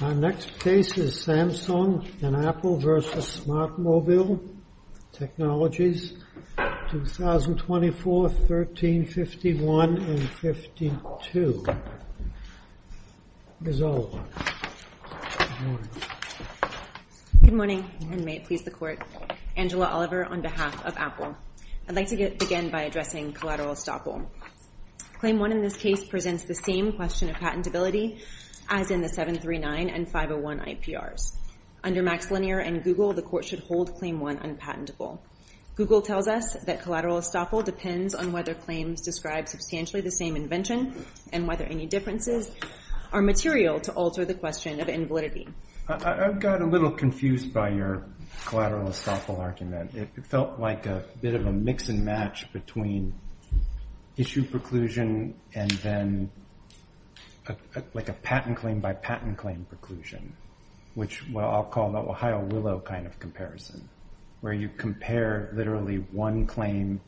Our next case is Samsung and Apple v. Smart Mobile Technologies, 2024, 1351 and 1352. Ms. Oliver, good morning. Good morning, and may it please the Court. Angela Oliver on behalf of Apple. I'd like to begin by addressing collateral estoppel. Claim one in this case presents the same question of patentability as in the 739 and 501 IPRs. Under Max Linear and Google, the Court should hold claim one unpatentable. Google tells us that collateral estoppel depends on whether claims describe substantially the same invention and whether any differences are material to alter the question of invalidity. I've got a little confused by your collateral estoppel argument. It felt like a bit of a mix-and-match between issue preclusion and then like a patent claim-by-patent claim preclusion, which I'll call the Ohio Willow kind of comparison, where you compare literally one claim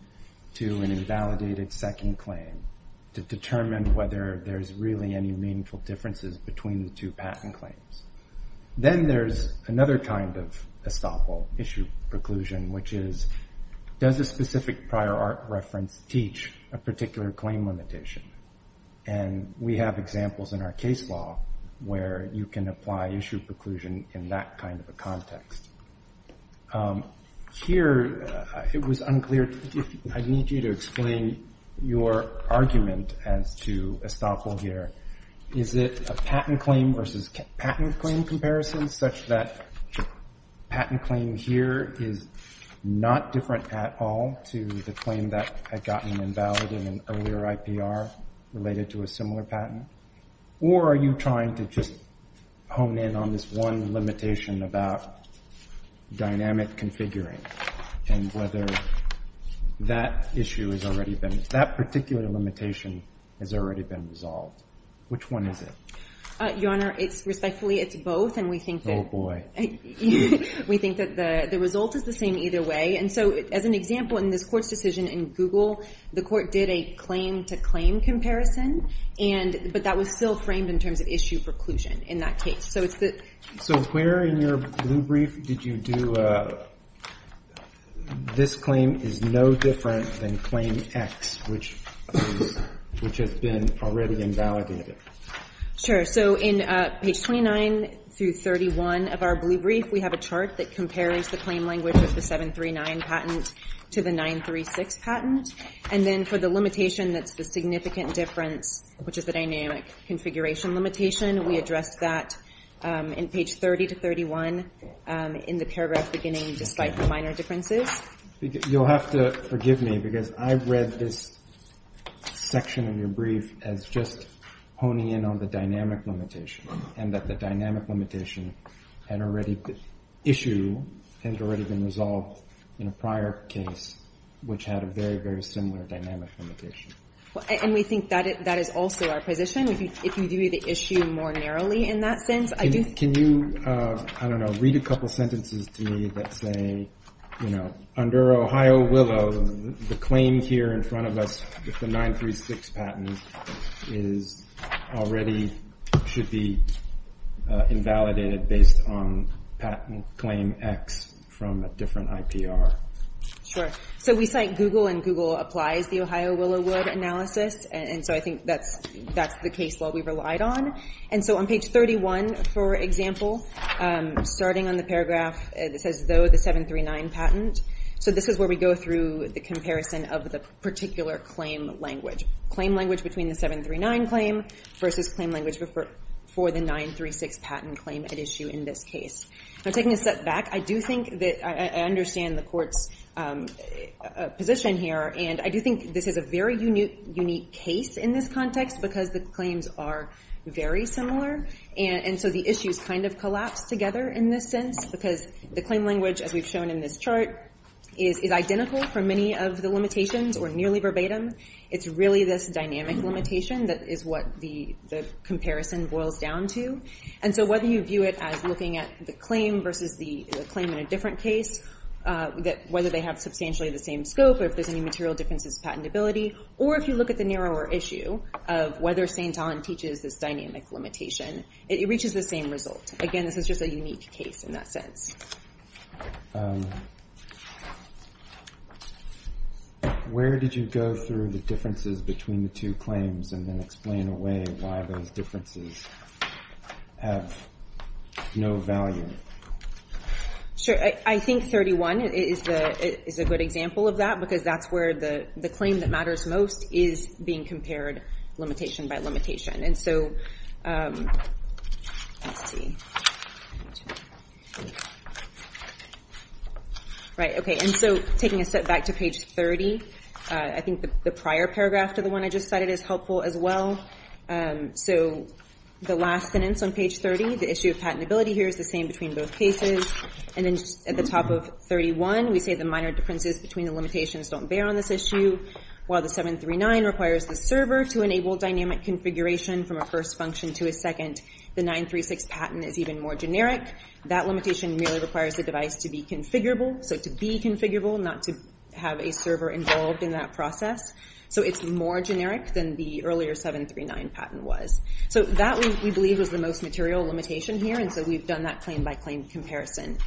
to an invalidated second claim to determine whether there's really any meaningful differences between the two patent claims. Then there's another kind of estoppel, issue preclusion, which is does a specific prior art reference teach a particular claim limitation? And we have examples in our case law where you can apply issue preclusion in that kind of a context. Here, it was unclear. I need you to explain your argument as to estoppel here. Is it a patent claim versus patent claim comparison, such that patent claim here is not different at all to the claim that had gotten invalid in an earlier IPR related to a similar patent? Or are you trying to just hone in on this one limitation about dynamic configuring and whether that particular limitation has already been resolved? Which one is it? Your Honor, respectfully, it's both, and we think that the result is the same either way. And so as an example, in this court's decision in Google, the court did a claim-to-claim comparison, but that was still framed in terms of issue preclusion in that case. So where in your blue brief did you do, this claim is no different than claim X, which has been already invalidated? Sure. So in page 29 through 31 of our blue brief, we have a chart that compares the claim language of the 739 patent to the 936 patent. And then for the limitation that's the significant difference, which is the dynamic configuration limitation, we addressed that in page 30 to 31 in the paragraph beginning, despite the minor differences. You'll have to forgive me, because I read this section of your brief as just honing in on the dynamic limitation, and that the dynamic limitation issue had already been resolved in a prior case, which had a very, very similar dynamic limitation. And we think that is also our position, if you view the issue more narrowly in that sense. Can you, I don't know, read a couple sentences to me that say, you know, under Ohio Willow, the claim here in front of us with the 936 patent is already, should be invalidated based on patent claim X from a different IPR. Sure. So we cite Google, and Google applies the Ohio Willow Wood analysis. And so I think that's the case law we relied on. And so on page 31, for example, starting on the paragraph that says, though the 739 patent. So this is where we go through the comparison of the particular claim language. Claim language between the 739 claim versus claim language for the 936 patent claim at issue in this case. Now, taking a step back, I do think that I understand the court's position here. And I do think this is a very unique case in this context, because the claims are very similar. And so the issues kind of collapse together in this sense, because the claim language, as we've shown in this chart, is identical for many of the limitations or nearly verbatim. It's really this dynamic limitation that is what the comparison boils down to. And so whether you view it as looking at the claim versus the claim in a different case, that whether they have substantially the same scope or if there's any material differences patentability, or if you look at the narrower issue of whether St. Allen teaches this dynamic limitation, it reaches the same result. Again, this is just a unique case in that sense. Where did you go through the differences between the two claims and then explain away why those differences have no value? Sure. I think 31 is a good example of that, because that's where the claim that matters most is being compared limitation by limitation. And so taking a step back to page 30, I think the prior paragraph to the one I just cited is helpful as well. So the last sentence on page 30, the issue of patentability here is the same between both cases. And then at the top of 31, we say the minor differences between the limitations don't bear on this issue, while the 739 requires the server to enable dynamic configuration from a first function to a second. The 936 patent is even more generic. That limitation merely requires the device to be configurable. So to be configurable, not to have a server involved in that process. So it's more generic than the earlier 739 patent was. So that we believe was the most material limitation here. And so we've done that claim by claim comparison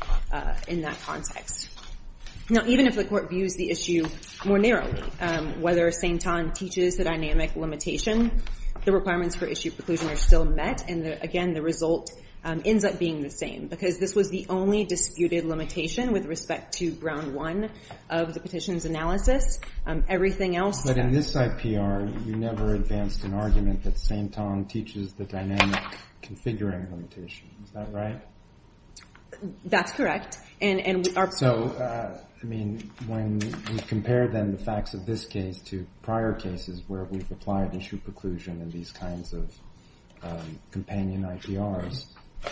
in that context. Now, even if the court views the issue more narrowly, whether St. Tongue teaches the dynamic limitation, the requirements for issue preclusion are still met. And again, the result ends up being the same, because this was the only disputed limitation with respect to ground one of the petition's analysis. Everything else... But in this IPR, you never advanced an argument that St. Tongue teaches the dynamic configuring limitation, is that right? That's correct. So, I mean, when we compare then the facts of this case to prior cases where we've applied issue preclusion in these kinds of companion IPRs,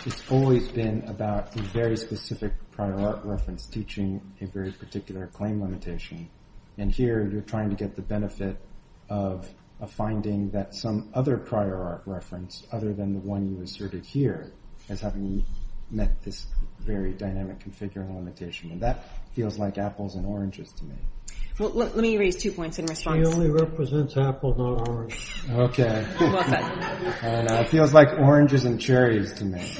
it's always been about a very specific prior art reference teaching a very particular claim limitation. And here, you're trying to get the benefit of a finding that some other prior art reference, other than the one you asserted here, is having met this very dynamic configuring limitation. And that feels like apples and oranges to me. Well, let me raise two points in response. He only represents apples, not oranges. Okay. Well said. I don't know. It feels like oranges and cherries to me.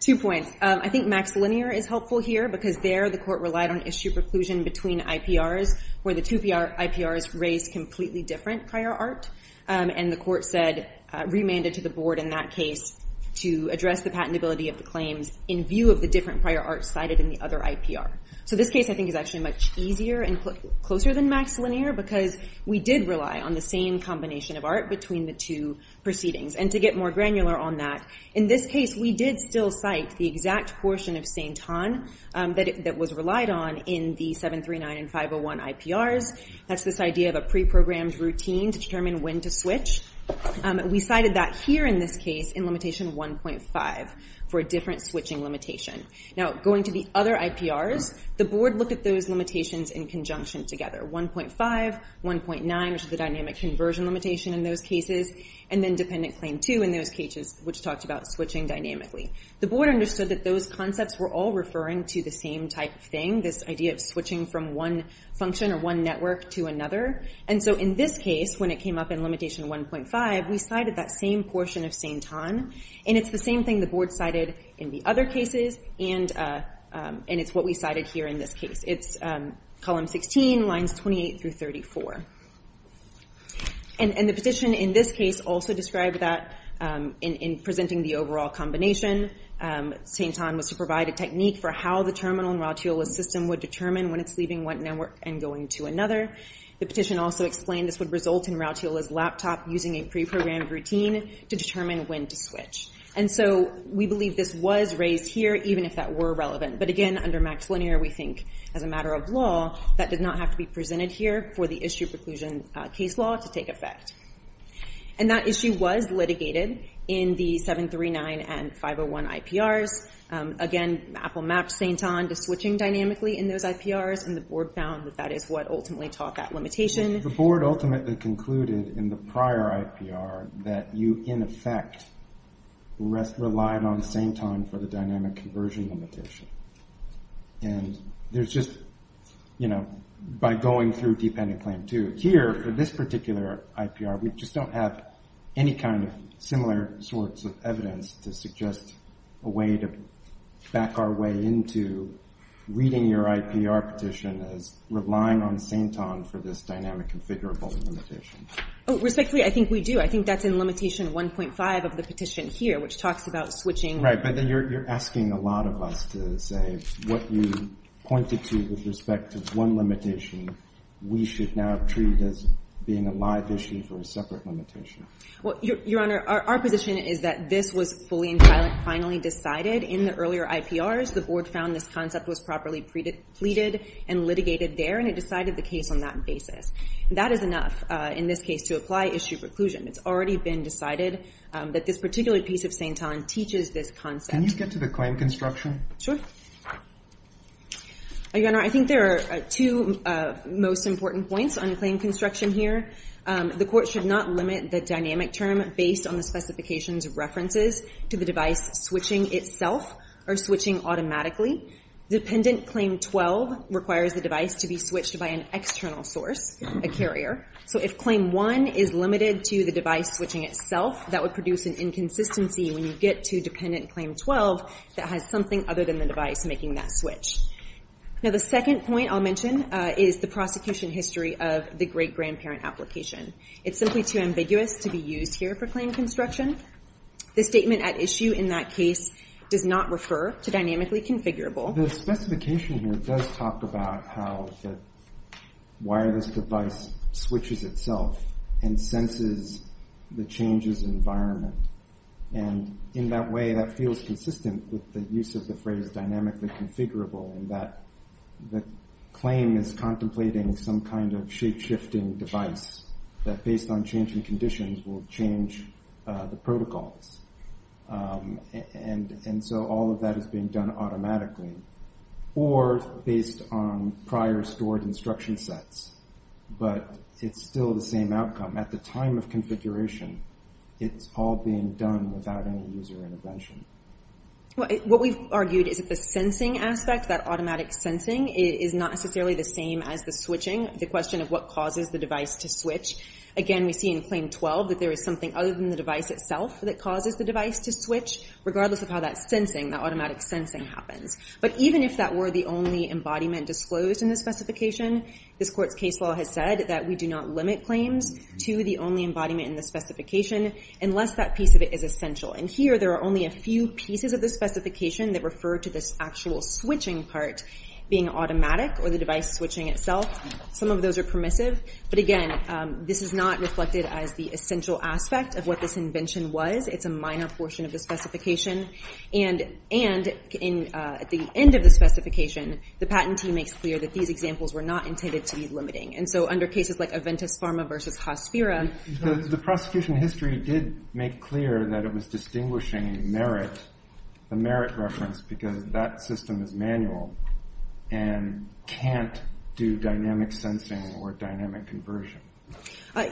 Two points. I think Max Linear is helpful here, because there, the court relied on issue preclusion between IPRs where the two IPRs raised completely different prior art. And the court said, remanded to the board in that case to address the patentability of the claims in view of the different prior art cited in the other IPR. So this case, I think, is actually much easier and closer than Max Linear, because we did rely on the same combination of art between the two proceedings. And to get more granular on that, in this case, we did still cite the exact portion of St. Tongue that was relied on in the 739 and 501 IPRs. That's this idea of a pre-programmed routine to determine when to switch. We cited that here in this case in limitation 1.5 for a different switching limitation. Now, going to the other IPRs, the board looked at those limitations in conjunction together. 1.5, 1.9, which is the dynamic conversion limitation in those cases, and then dependent claim 2 in those cases, which talked about switching dynamically. The board understood that those concepts were all referring to the same type of thing. This idea of switching from one function or one network to another. And so in this case, when it came up in limitation 1.5, we cited that same portion of St. Tongue, and it's the same thing the board cited in the other cases, and it's what we cited here in this case. It's column 16, lines 28 through 34. And the petition in this case also described that in presenting the overall combination. St. Tongue was to provide a technique for how the terminal in Rautiola's system would determine when it's leaving one network and going to another. The petition also explained this would result in Rautiola's laptop using a pre-programmed routine to determine when to switch. And so we believe this was raised here, even if that were relevant. But again, under Max Linear, we think as a matter of law, that did not have to be presented here for the issue preclusion case law to take effect. And that issue was litigated in the 739 and 501 IPRs. Again, Apple mapped St. Tongue to switching dynamically in those IPRs, and the board found that that is what ultimately taught that limitation. The board ultimately concluded in the prior IPR that you, in effect, relied on St. Tongue for the dynamic conversion limitation. And there's just, you know, by going through dependent claim two, here for this particular IPR, we just don't have any kind of similar sorts of evidence to suggest a way to back our way into reading your IPR petition as relying on St. Tongue for this dynamic configurable limitation. Oh, respectfully, I think we do. I think that's in limitation 1.5 of the petition here, which talks about switching. Right, but then you're asking a lot of us to say what you pointed to with respect to one limitation, we should now treat as being a live issue for a separate limitation. Well, Your Honor, our position is that this was fully and finally decided in the earlier IPRs. The board found this concept was properly pleaded and litigated there, and it decided the case on that basis. That is enough in this case to apply issue preclusion. It's already been decided that this particular piece of St. Tongue teaches this concept. Can you get to the claim construction? Your Honor, I think there are two most important points on the claim construction here. The court should not limit the dynamic term based on the specifications of references to the device switching itself or switching automatically. Dependent claim 12 requires the device to be switched by an external source, a carrier. So if claim 1 is limited to the device switching itself, that would produce an inconsistency when you get to dependent claim 12 that has something other than the device making that switch. Now, the second point I'll mention is the prosecution history of the great grandparent application. It's simply too ambiguous to be used here for claim construction. The statement at issue in that case does not refer to dynamically configurable. The specification here does talk about how the wireless device switches itself and senses the changes environment. And in that way, that feels consistent with the use of the phrase dynamically configurable in that the claim is contemplating some kind of shape-shifting device that, based on changing conditions, will change the protocols. And so all of that is being done automatically or based on prior stored instruction sets. But it's still the same outcome. At the time of configuration, it's all being done without any user intervention. What we've argued is that the sensing aspect, that automatic sensing, is not necessarily the same as the switching, the question of what causes the device to switch. Again, we see in claim 12 that there is something other than the device itself that causes the device to switch, regardless of how that sensing, that automatic sensing, happens. But even if that were the only embodiment disclosed in the specification, this court's case law has said that we do not limit claims to the only embodiment in the specification unless that piece of it is essential. And here, there are only a few pieces of the specification that refer to this actual switching part being automatic or the device switching itself. Some of those are permissive. But again, this is not reflected as the essential aspect of what this invention was. It's a minor portion of the specification. And at the end of the specification, the patent team makes clear that these examples were not intended to be limiting. And so under cases like Aventis Pharma versus Hospira... The prosecution history did make clear that it was distinguishing merit, the merit reference, because that system is manual and can't do dynamic sensing or dynamic conversion.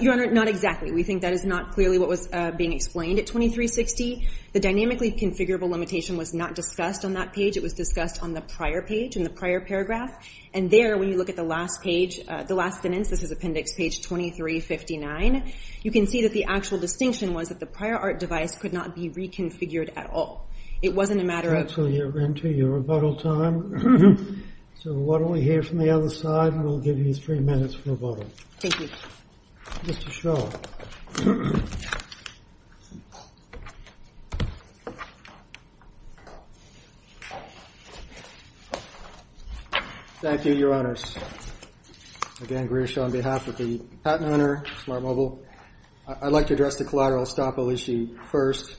Your Honor, not exactly. We think that is not clearly what was being explained at 2360. The dynamically configurable limitation was not discussed on that page. It was discussed on the prior page, in the prior paragraph. And there, when you look at the last page, the last sentence, this is appendix page 2359, you can see that the actual distinction was that the prior art device could not be reconfigured at all. It wasn't a matter of... That's where you enter your rebuttal time. So why don't we hear from the other side, and we'll give you three minutes for rebuttal. Thank you. Mr. Shaw. Thank you, Your Honor. Again, Greer Shaw on behalf of the patent owner, Smart Mobile. I'd like to address the collateral estoppel issue first.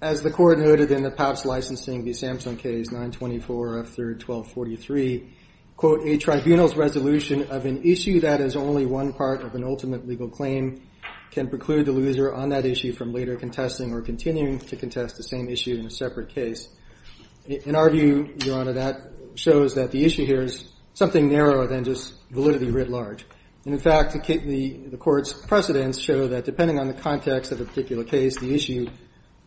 As the court noted in the PAPS licensing, the Samsung case, 924F3-1243, quote, a tribunal's resolution of an issue that is only one part of an ultimate legal claim can preclude the loser on that issue from later contesting or continuing to contest the same issue in a separate case. In our view, Your Honor, that shows that the issue here is something narrower than just validity writ large. And in fact, the court's precedents show that depending on the context of a particular case, the issue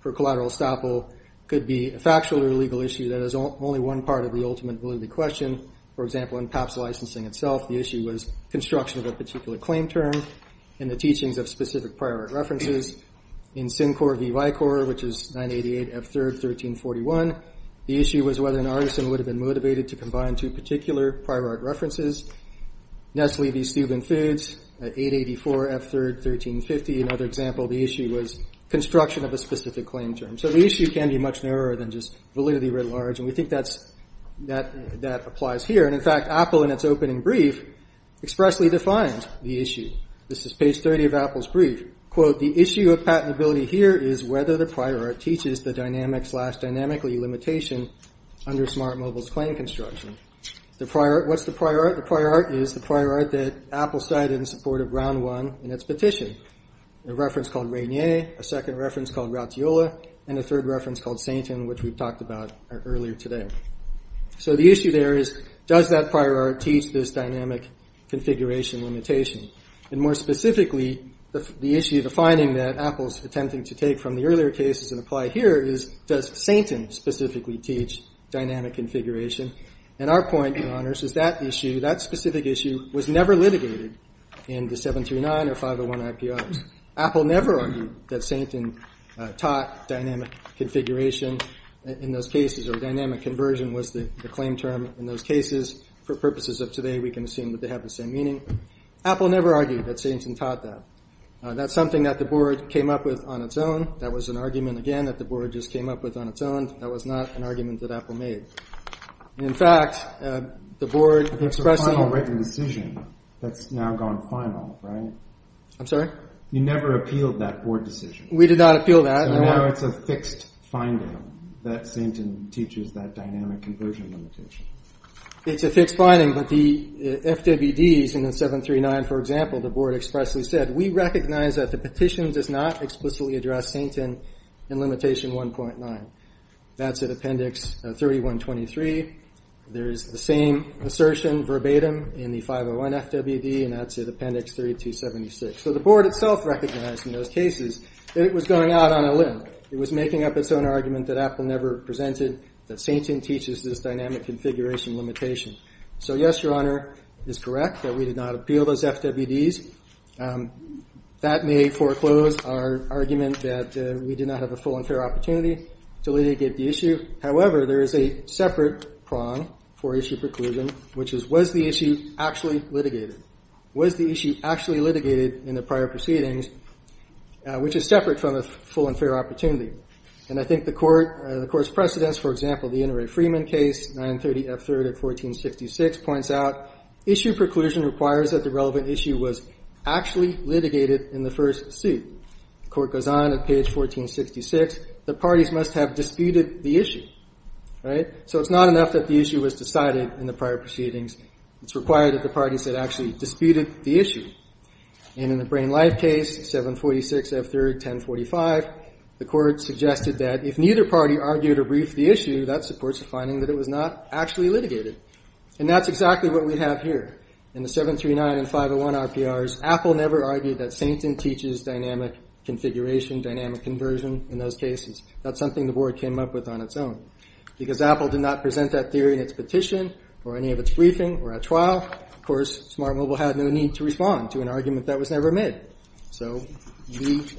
for collateral estoppel could be a factual or legal issue that is only one part of the ultimate validity question. For example, in PAPS licensing itself, the issue was construction of a particular claim term and the teachings of specific prior art references. In Sincor v. Vicor, which is 988F3-1341, the issue was whether an artisan would have been motivated to combine two particular prior art references. Nestle v. Steuben Foods, 884F3-1350, another example of the issue was construction of a specific claim term. So the issue can be much narrower than just validity writ large, and we think that applies here. And in fact, Apple, in its opening brief, expressly defined the issue. This is page 30 of Apple's brief. Quote, the issue of patentability here is whether the prior art teaches the dynamic slash dynamically limitation under Smart Mobile's claim construction. What's the prior art? The prior art is the prior art that Apple cited in support of round one in its petition, a reference called Regnier, a second reference called Ratiola, and a third reference called Sainton, which we've talked about earlier today. So the issue there is, does that prior art teach this dynamic configuration limitation? And more specifically, the issue, the finding that Apple's attempting to take from the earlier cases and apply here is, does Sainton specifically teach dynamic configuration? And our point, Your Honors, is that issue, that specific issue, was never litigated in the 739 or 501 IPOs. Apple never argued that Sainton taught dynamic configuration in those cases, or dynamic conversion was the claim term in those cases. For purposes of today, we can assume that they have the same meaning. Apple never argued that Sainton taught that. That's something that the board came up with on its own. That was an argument, again, that the board just came up with on its own. That was not an argument that Apple made. In fact, the board expressing- That's a final written decision that's now gone final, right? I'm sorry? You never appealed that board decision. We did not appeal that. So now it's a fixed finding that Sainton teaches that dynamic conversion limitation. It's a fixed finding, but the FWDs in the 739, for example, the board expressly said, we recognize that the petition does not explicitly address Sainton in limitation 1.9. That's at appendix 3123. There is the same assertion verbatim in the 501 FWD, and that's at appendix 3276. So the board itself recognized in those cases that it was going out on a limb. It was making up its own argument that Apple never presented, that Sainton teaches this dynamic configuration limitation. So yes, Your Honor, it's correct that we did not appeal those FWDs. That may foreclose our argument that we did not have a full and fair opportunity to litigate the issue. However, there is a separate prong for issue preclusion, which is was the issue actually litigated? Was the issue actually litigated in the prior proceedings, which is separate from a full and fair opportunity? And I think the Court's precedents, for example, the Inouye-Freeman case, 930 F3rd of 1466, points out issue preclusion requires that the relevant issue was actually litigated in the first suit. The Court goes on at page 1466. The parties must have disputed the issue, right? So it's not enough that the issue was decided in the prior proceedings. It's required that the parties had actually disputed the issue. And in the Brain Life case, 746 F3rd, 1045, the Court suggested that if neither party argued or briefed the issue, that supports the finding that it was not actually litigated. And that's exactly what we have here. In the 739 and 501 RPRs, Apple never argued that Sainton teaches dynamic configuration, dynamic conversion in those cases. That's something the Board came up with on its own. Because Apple did not present that theory in its petition or any of its briefing or at trial, of course, Smart Mobile had no need to respond to an argument that was never made. So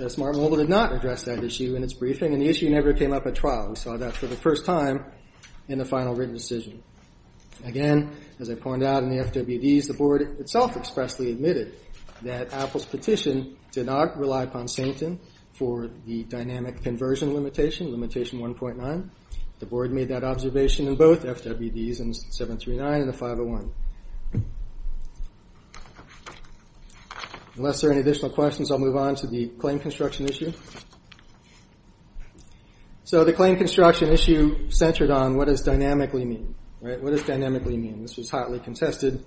Smart Mobile did not address that issue in its briefing, and the issue never came up at trial. We saw that for the first time in the final written decision. Again, as I pointed out in the FWDs, the Board itself expressly admitted that Apple's petition did not rely upon Sainton for the dynamic conversion limitation, limitation 1.9. The Board made that observation in both FWDs and 739 and the 501. Unless there are any additional questions, I'll move on to the claim construction issue. So the claim construction issue centered on what does dynamically mean. What does dynamically mean? This was hotly contested.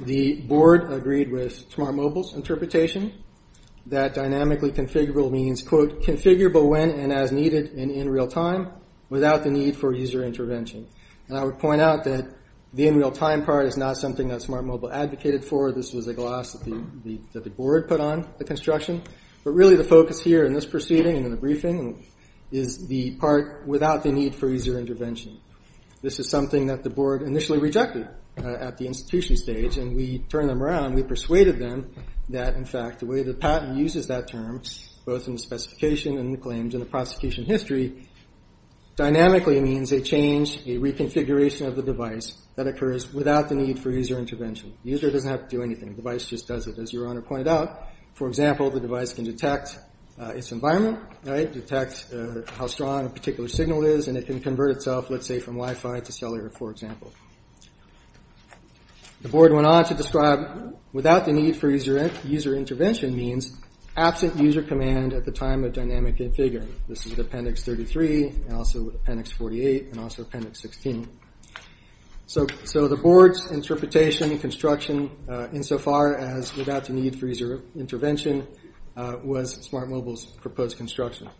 The Board agreed with Smart Mobile's interpretation that dynamically configurable means, quote, configurable when and as needed and in real time without the need for user intervention. And I would point out that the in real time part is not something that Smart Mobile advocated for. This was a gloss that the Board put on the construction. But really the focus here in this proceeding and in the briefing is the part without the need for user intervention. This is something that the Board initially rejected at the institution stage, and we turned them around. We persuaded them that, in fact, the way the patent uses that term, both in the specification and the claims and the prosecution history, dynamically means a change, a reconfiguration of the device that occurs without the need for user intervention. The user doesn't have to do anything. The device just does it, as Your Honor pointed out. For example, the device can detect its environment, detect how strong a particular signal is, and it can convert itself, let's say, from Wi-Fi to cellular, for example. The Board went on to describe without the need for user intervention means absent user command at the time of dynamic configuring. This is with Appendix 33 and also Appendix 48 and also Appendix 16. So the Board's interpretation of construction insofar as without the need for user intervention was SmartMobile's proposed construction.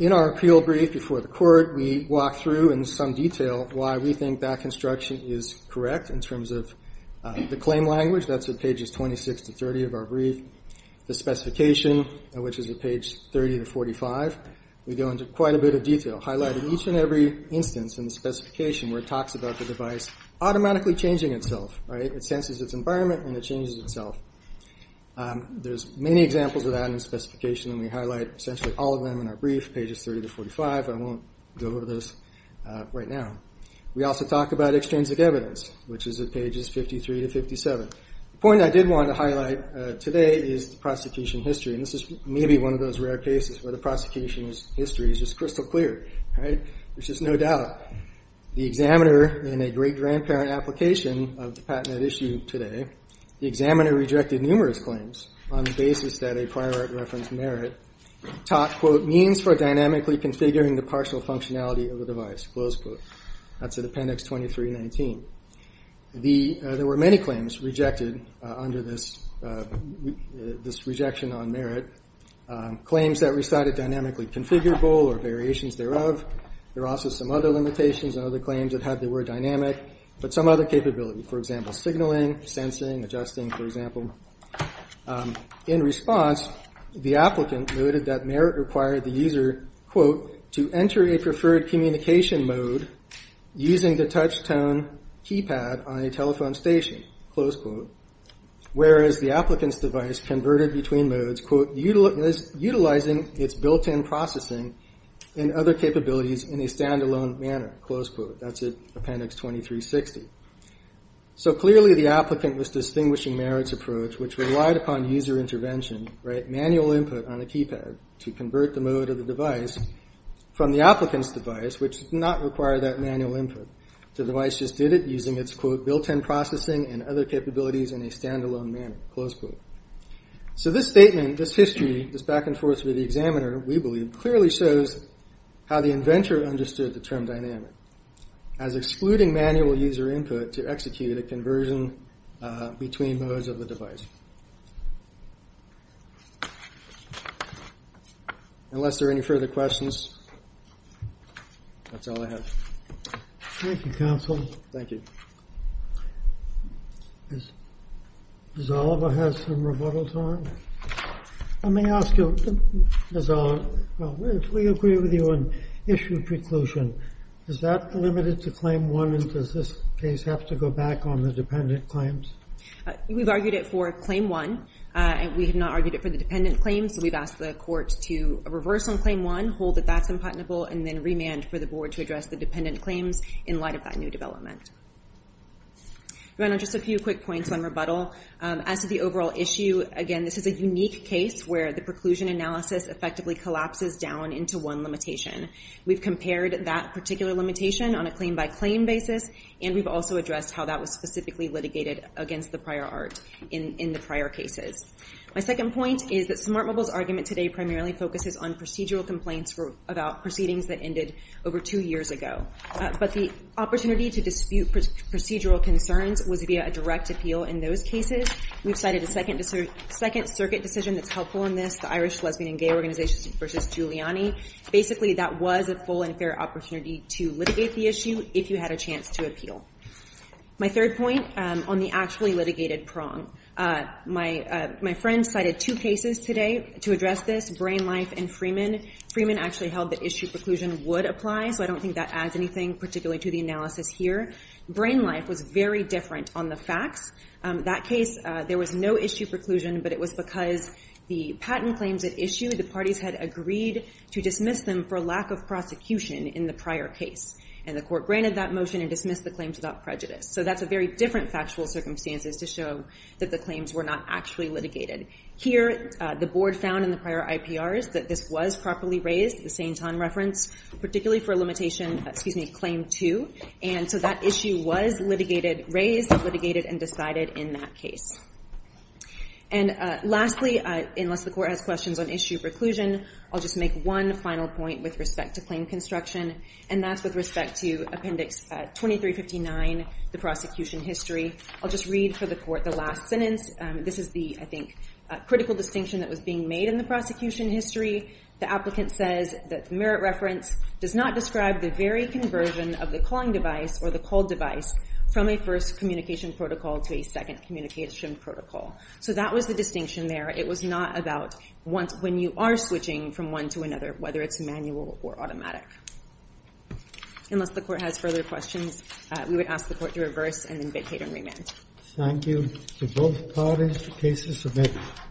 In our appeal brief before the Court, we walk through in some detail why we think that construction is correct in terms of the claim language. That's at pages 26 to 30 of our brief. The specification, which is at page 30 to 45, we go into quite a bit of detail, highlighting each and every instance in the specification where it talks about the device automatically changing itself. It senses its environment and it changes itself. There's many examples of that in the specification, and we highlight essentially all of them in our brief, pages 30 to 45. I won't go over those right now. We also talk about extrinsic evidence, which is at pages 53 to 57. The point I did want to highlight today is the prosecution history, and this is maybe one of those rare cases where the prosecution history is just crystal clear. There's just no doubt. The examiner, in a great grandparent application of the patent at issue today, the examiner rejected numerous claims on the basis that a prior reference merit taught, quote, means for dynamically configuring the partial functionality of the device, close quote. That's at Appendix 2319. There were many claims rejected under this rejection on merit, claims that recited dynamically configurable or variations thereof. There were also some other limitations and other claims that had the word dynamic, but some other capability, for example, signaling, sensing, adjusting, for example. In response, the applicant noted that merit required the user, quote, to enter a preferred communication mode using the touch-tone keypad on a telephone station, close quote, whereas the applicant's device converted between modes, quote, utilizing its built-in processing and other capabilities in a stand-alone manner, close quote. That's at Appendix 2360. So clearly the applicant was distinguishing merit's approach, which relied upon user intervention, right, to convert the mode of the device from the applicant's device, which did not require that manual input. The device just did it using its, quote, built-in processing and other capabilities in a stand-alone manner, close quote. So this statement, this history, this back and forth with the examiner, we believe, clearly shows how the inventor understood the term dynamic as excluding manual user input to execute a conversion between modes of the device. Unless there are any further questions, that's all I have. Thank you, counsel. Thank you. Does Oliver have some rebuttal time? Let me ask you, if we agree with you on issue preclusion, is that limited to Claim 1 and does this case have to go back on the dependent claims? We've argued it for Claim 1. We have not argued it for the dependent claims, so we've asked the court to reverse on Claim 1, hold that that's unpardonable, and then remand for the board to address the dependent claims in light of that new development. Just a few quick points on rebuttal. As to the overall issue, again, this is a unique case where the preclusion analysis effectively collapses down into one limitation. We've compared that particular limitation on a claim-by-claim basis, and we've also addressed how that was specifically litigated against the prior art in the prior cases. My second point is that Smart Mobile's argument today primarily focuses on procedural complaints about proceedings that ended over two years ago, but the opportunity to dispute procedural concerns was via a direct appeal in those cases. We've cited a Second Circuit decision that's helpful in this, the Irish Lesbian and Gay Organization versus Giuliani. Basically, that was a full and fair opportunity to litigate the issue if you had a chance to appeal. My third point, on the actually litigated prong. My friend cited two cases today to address this, Brain Life and Freeman. Freeman actually held that issue preclusion would apply, so I don't think that adds anything particularly to the analysis here. Brain Life was very different on the facts. That case, there was no issue preclusion, but it was because the patent claims at issue, the parties had agreed to dismiss them for lack of prosecution in the prior case, and the court granted that motion and dismissed the claims without prejudice. So that's a very different factual circumstances to show that the claims were not actually litigated. Here, the board found in the prior IPRs that this was properly raised, the St. John reference, particularly for a limitation, excuse me, Claim 2, and so that issue was raised, litigated, and decided in that case. And lastly, unless the court has questions on issue preclusion, I'll just make one final point with respect to claim construction, and that's with respect to Appendix 2359, the prosecution history. I'll just read for the court the last sentence. This is the, I think, critical distinction that was being made in the prosecution history. The applicant says that the merit reference does not describe the very conversion of the calling device or the call device from a first communication protocol to a second communication protocol. So that was the distinction there. It was not about when you are switching from one to another, whether it's manual or automatic. Unless the court has further questions, we would ask the court to reverse and then vacate and remand. Thank you to both parties for cases submitted.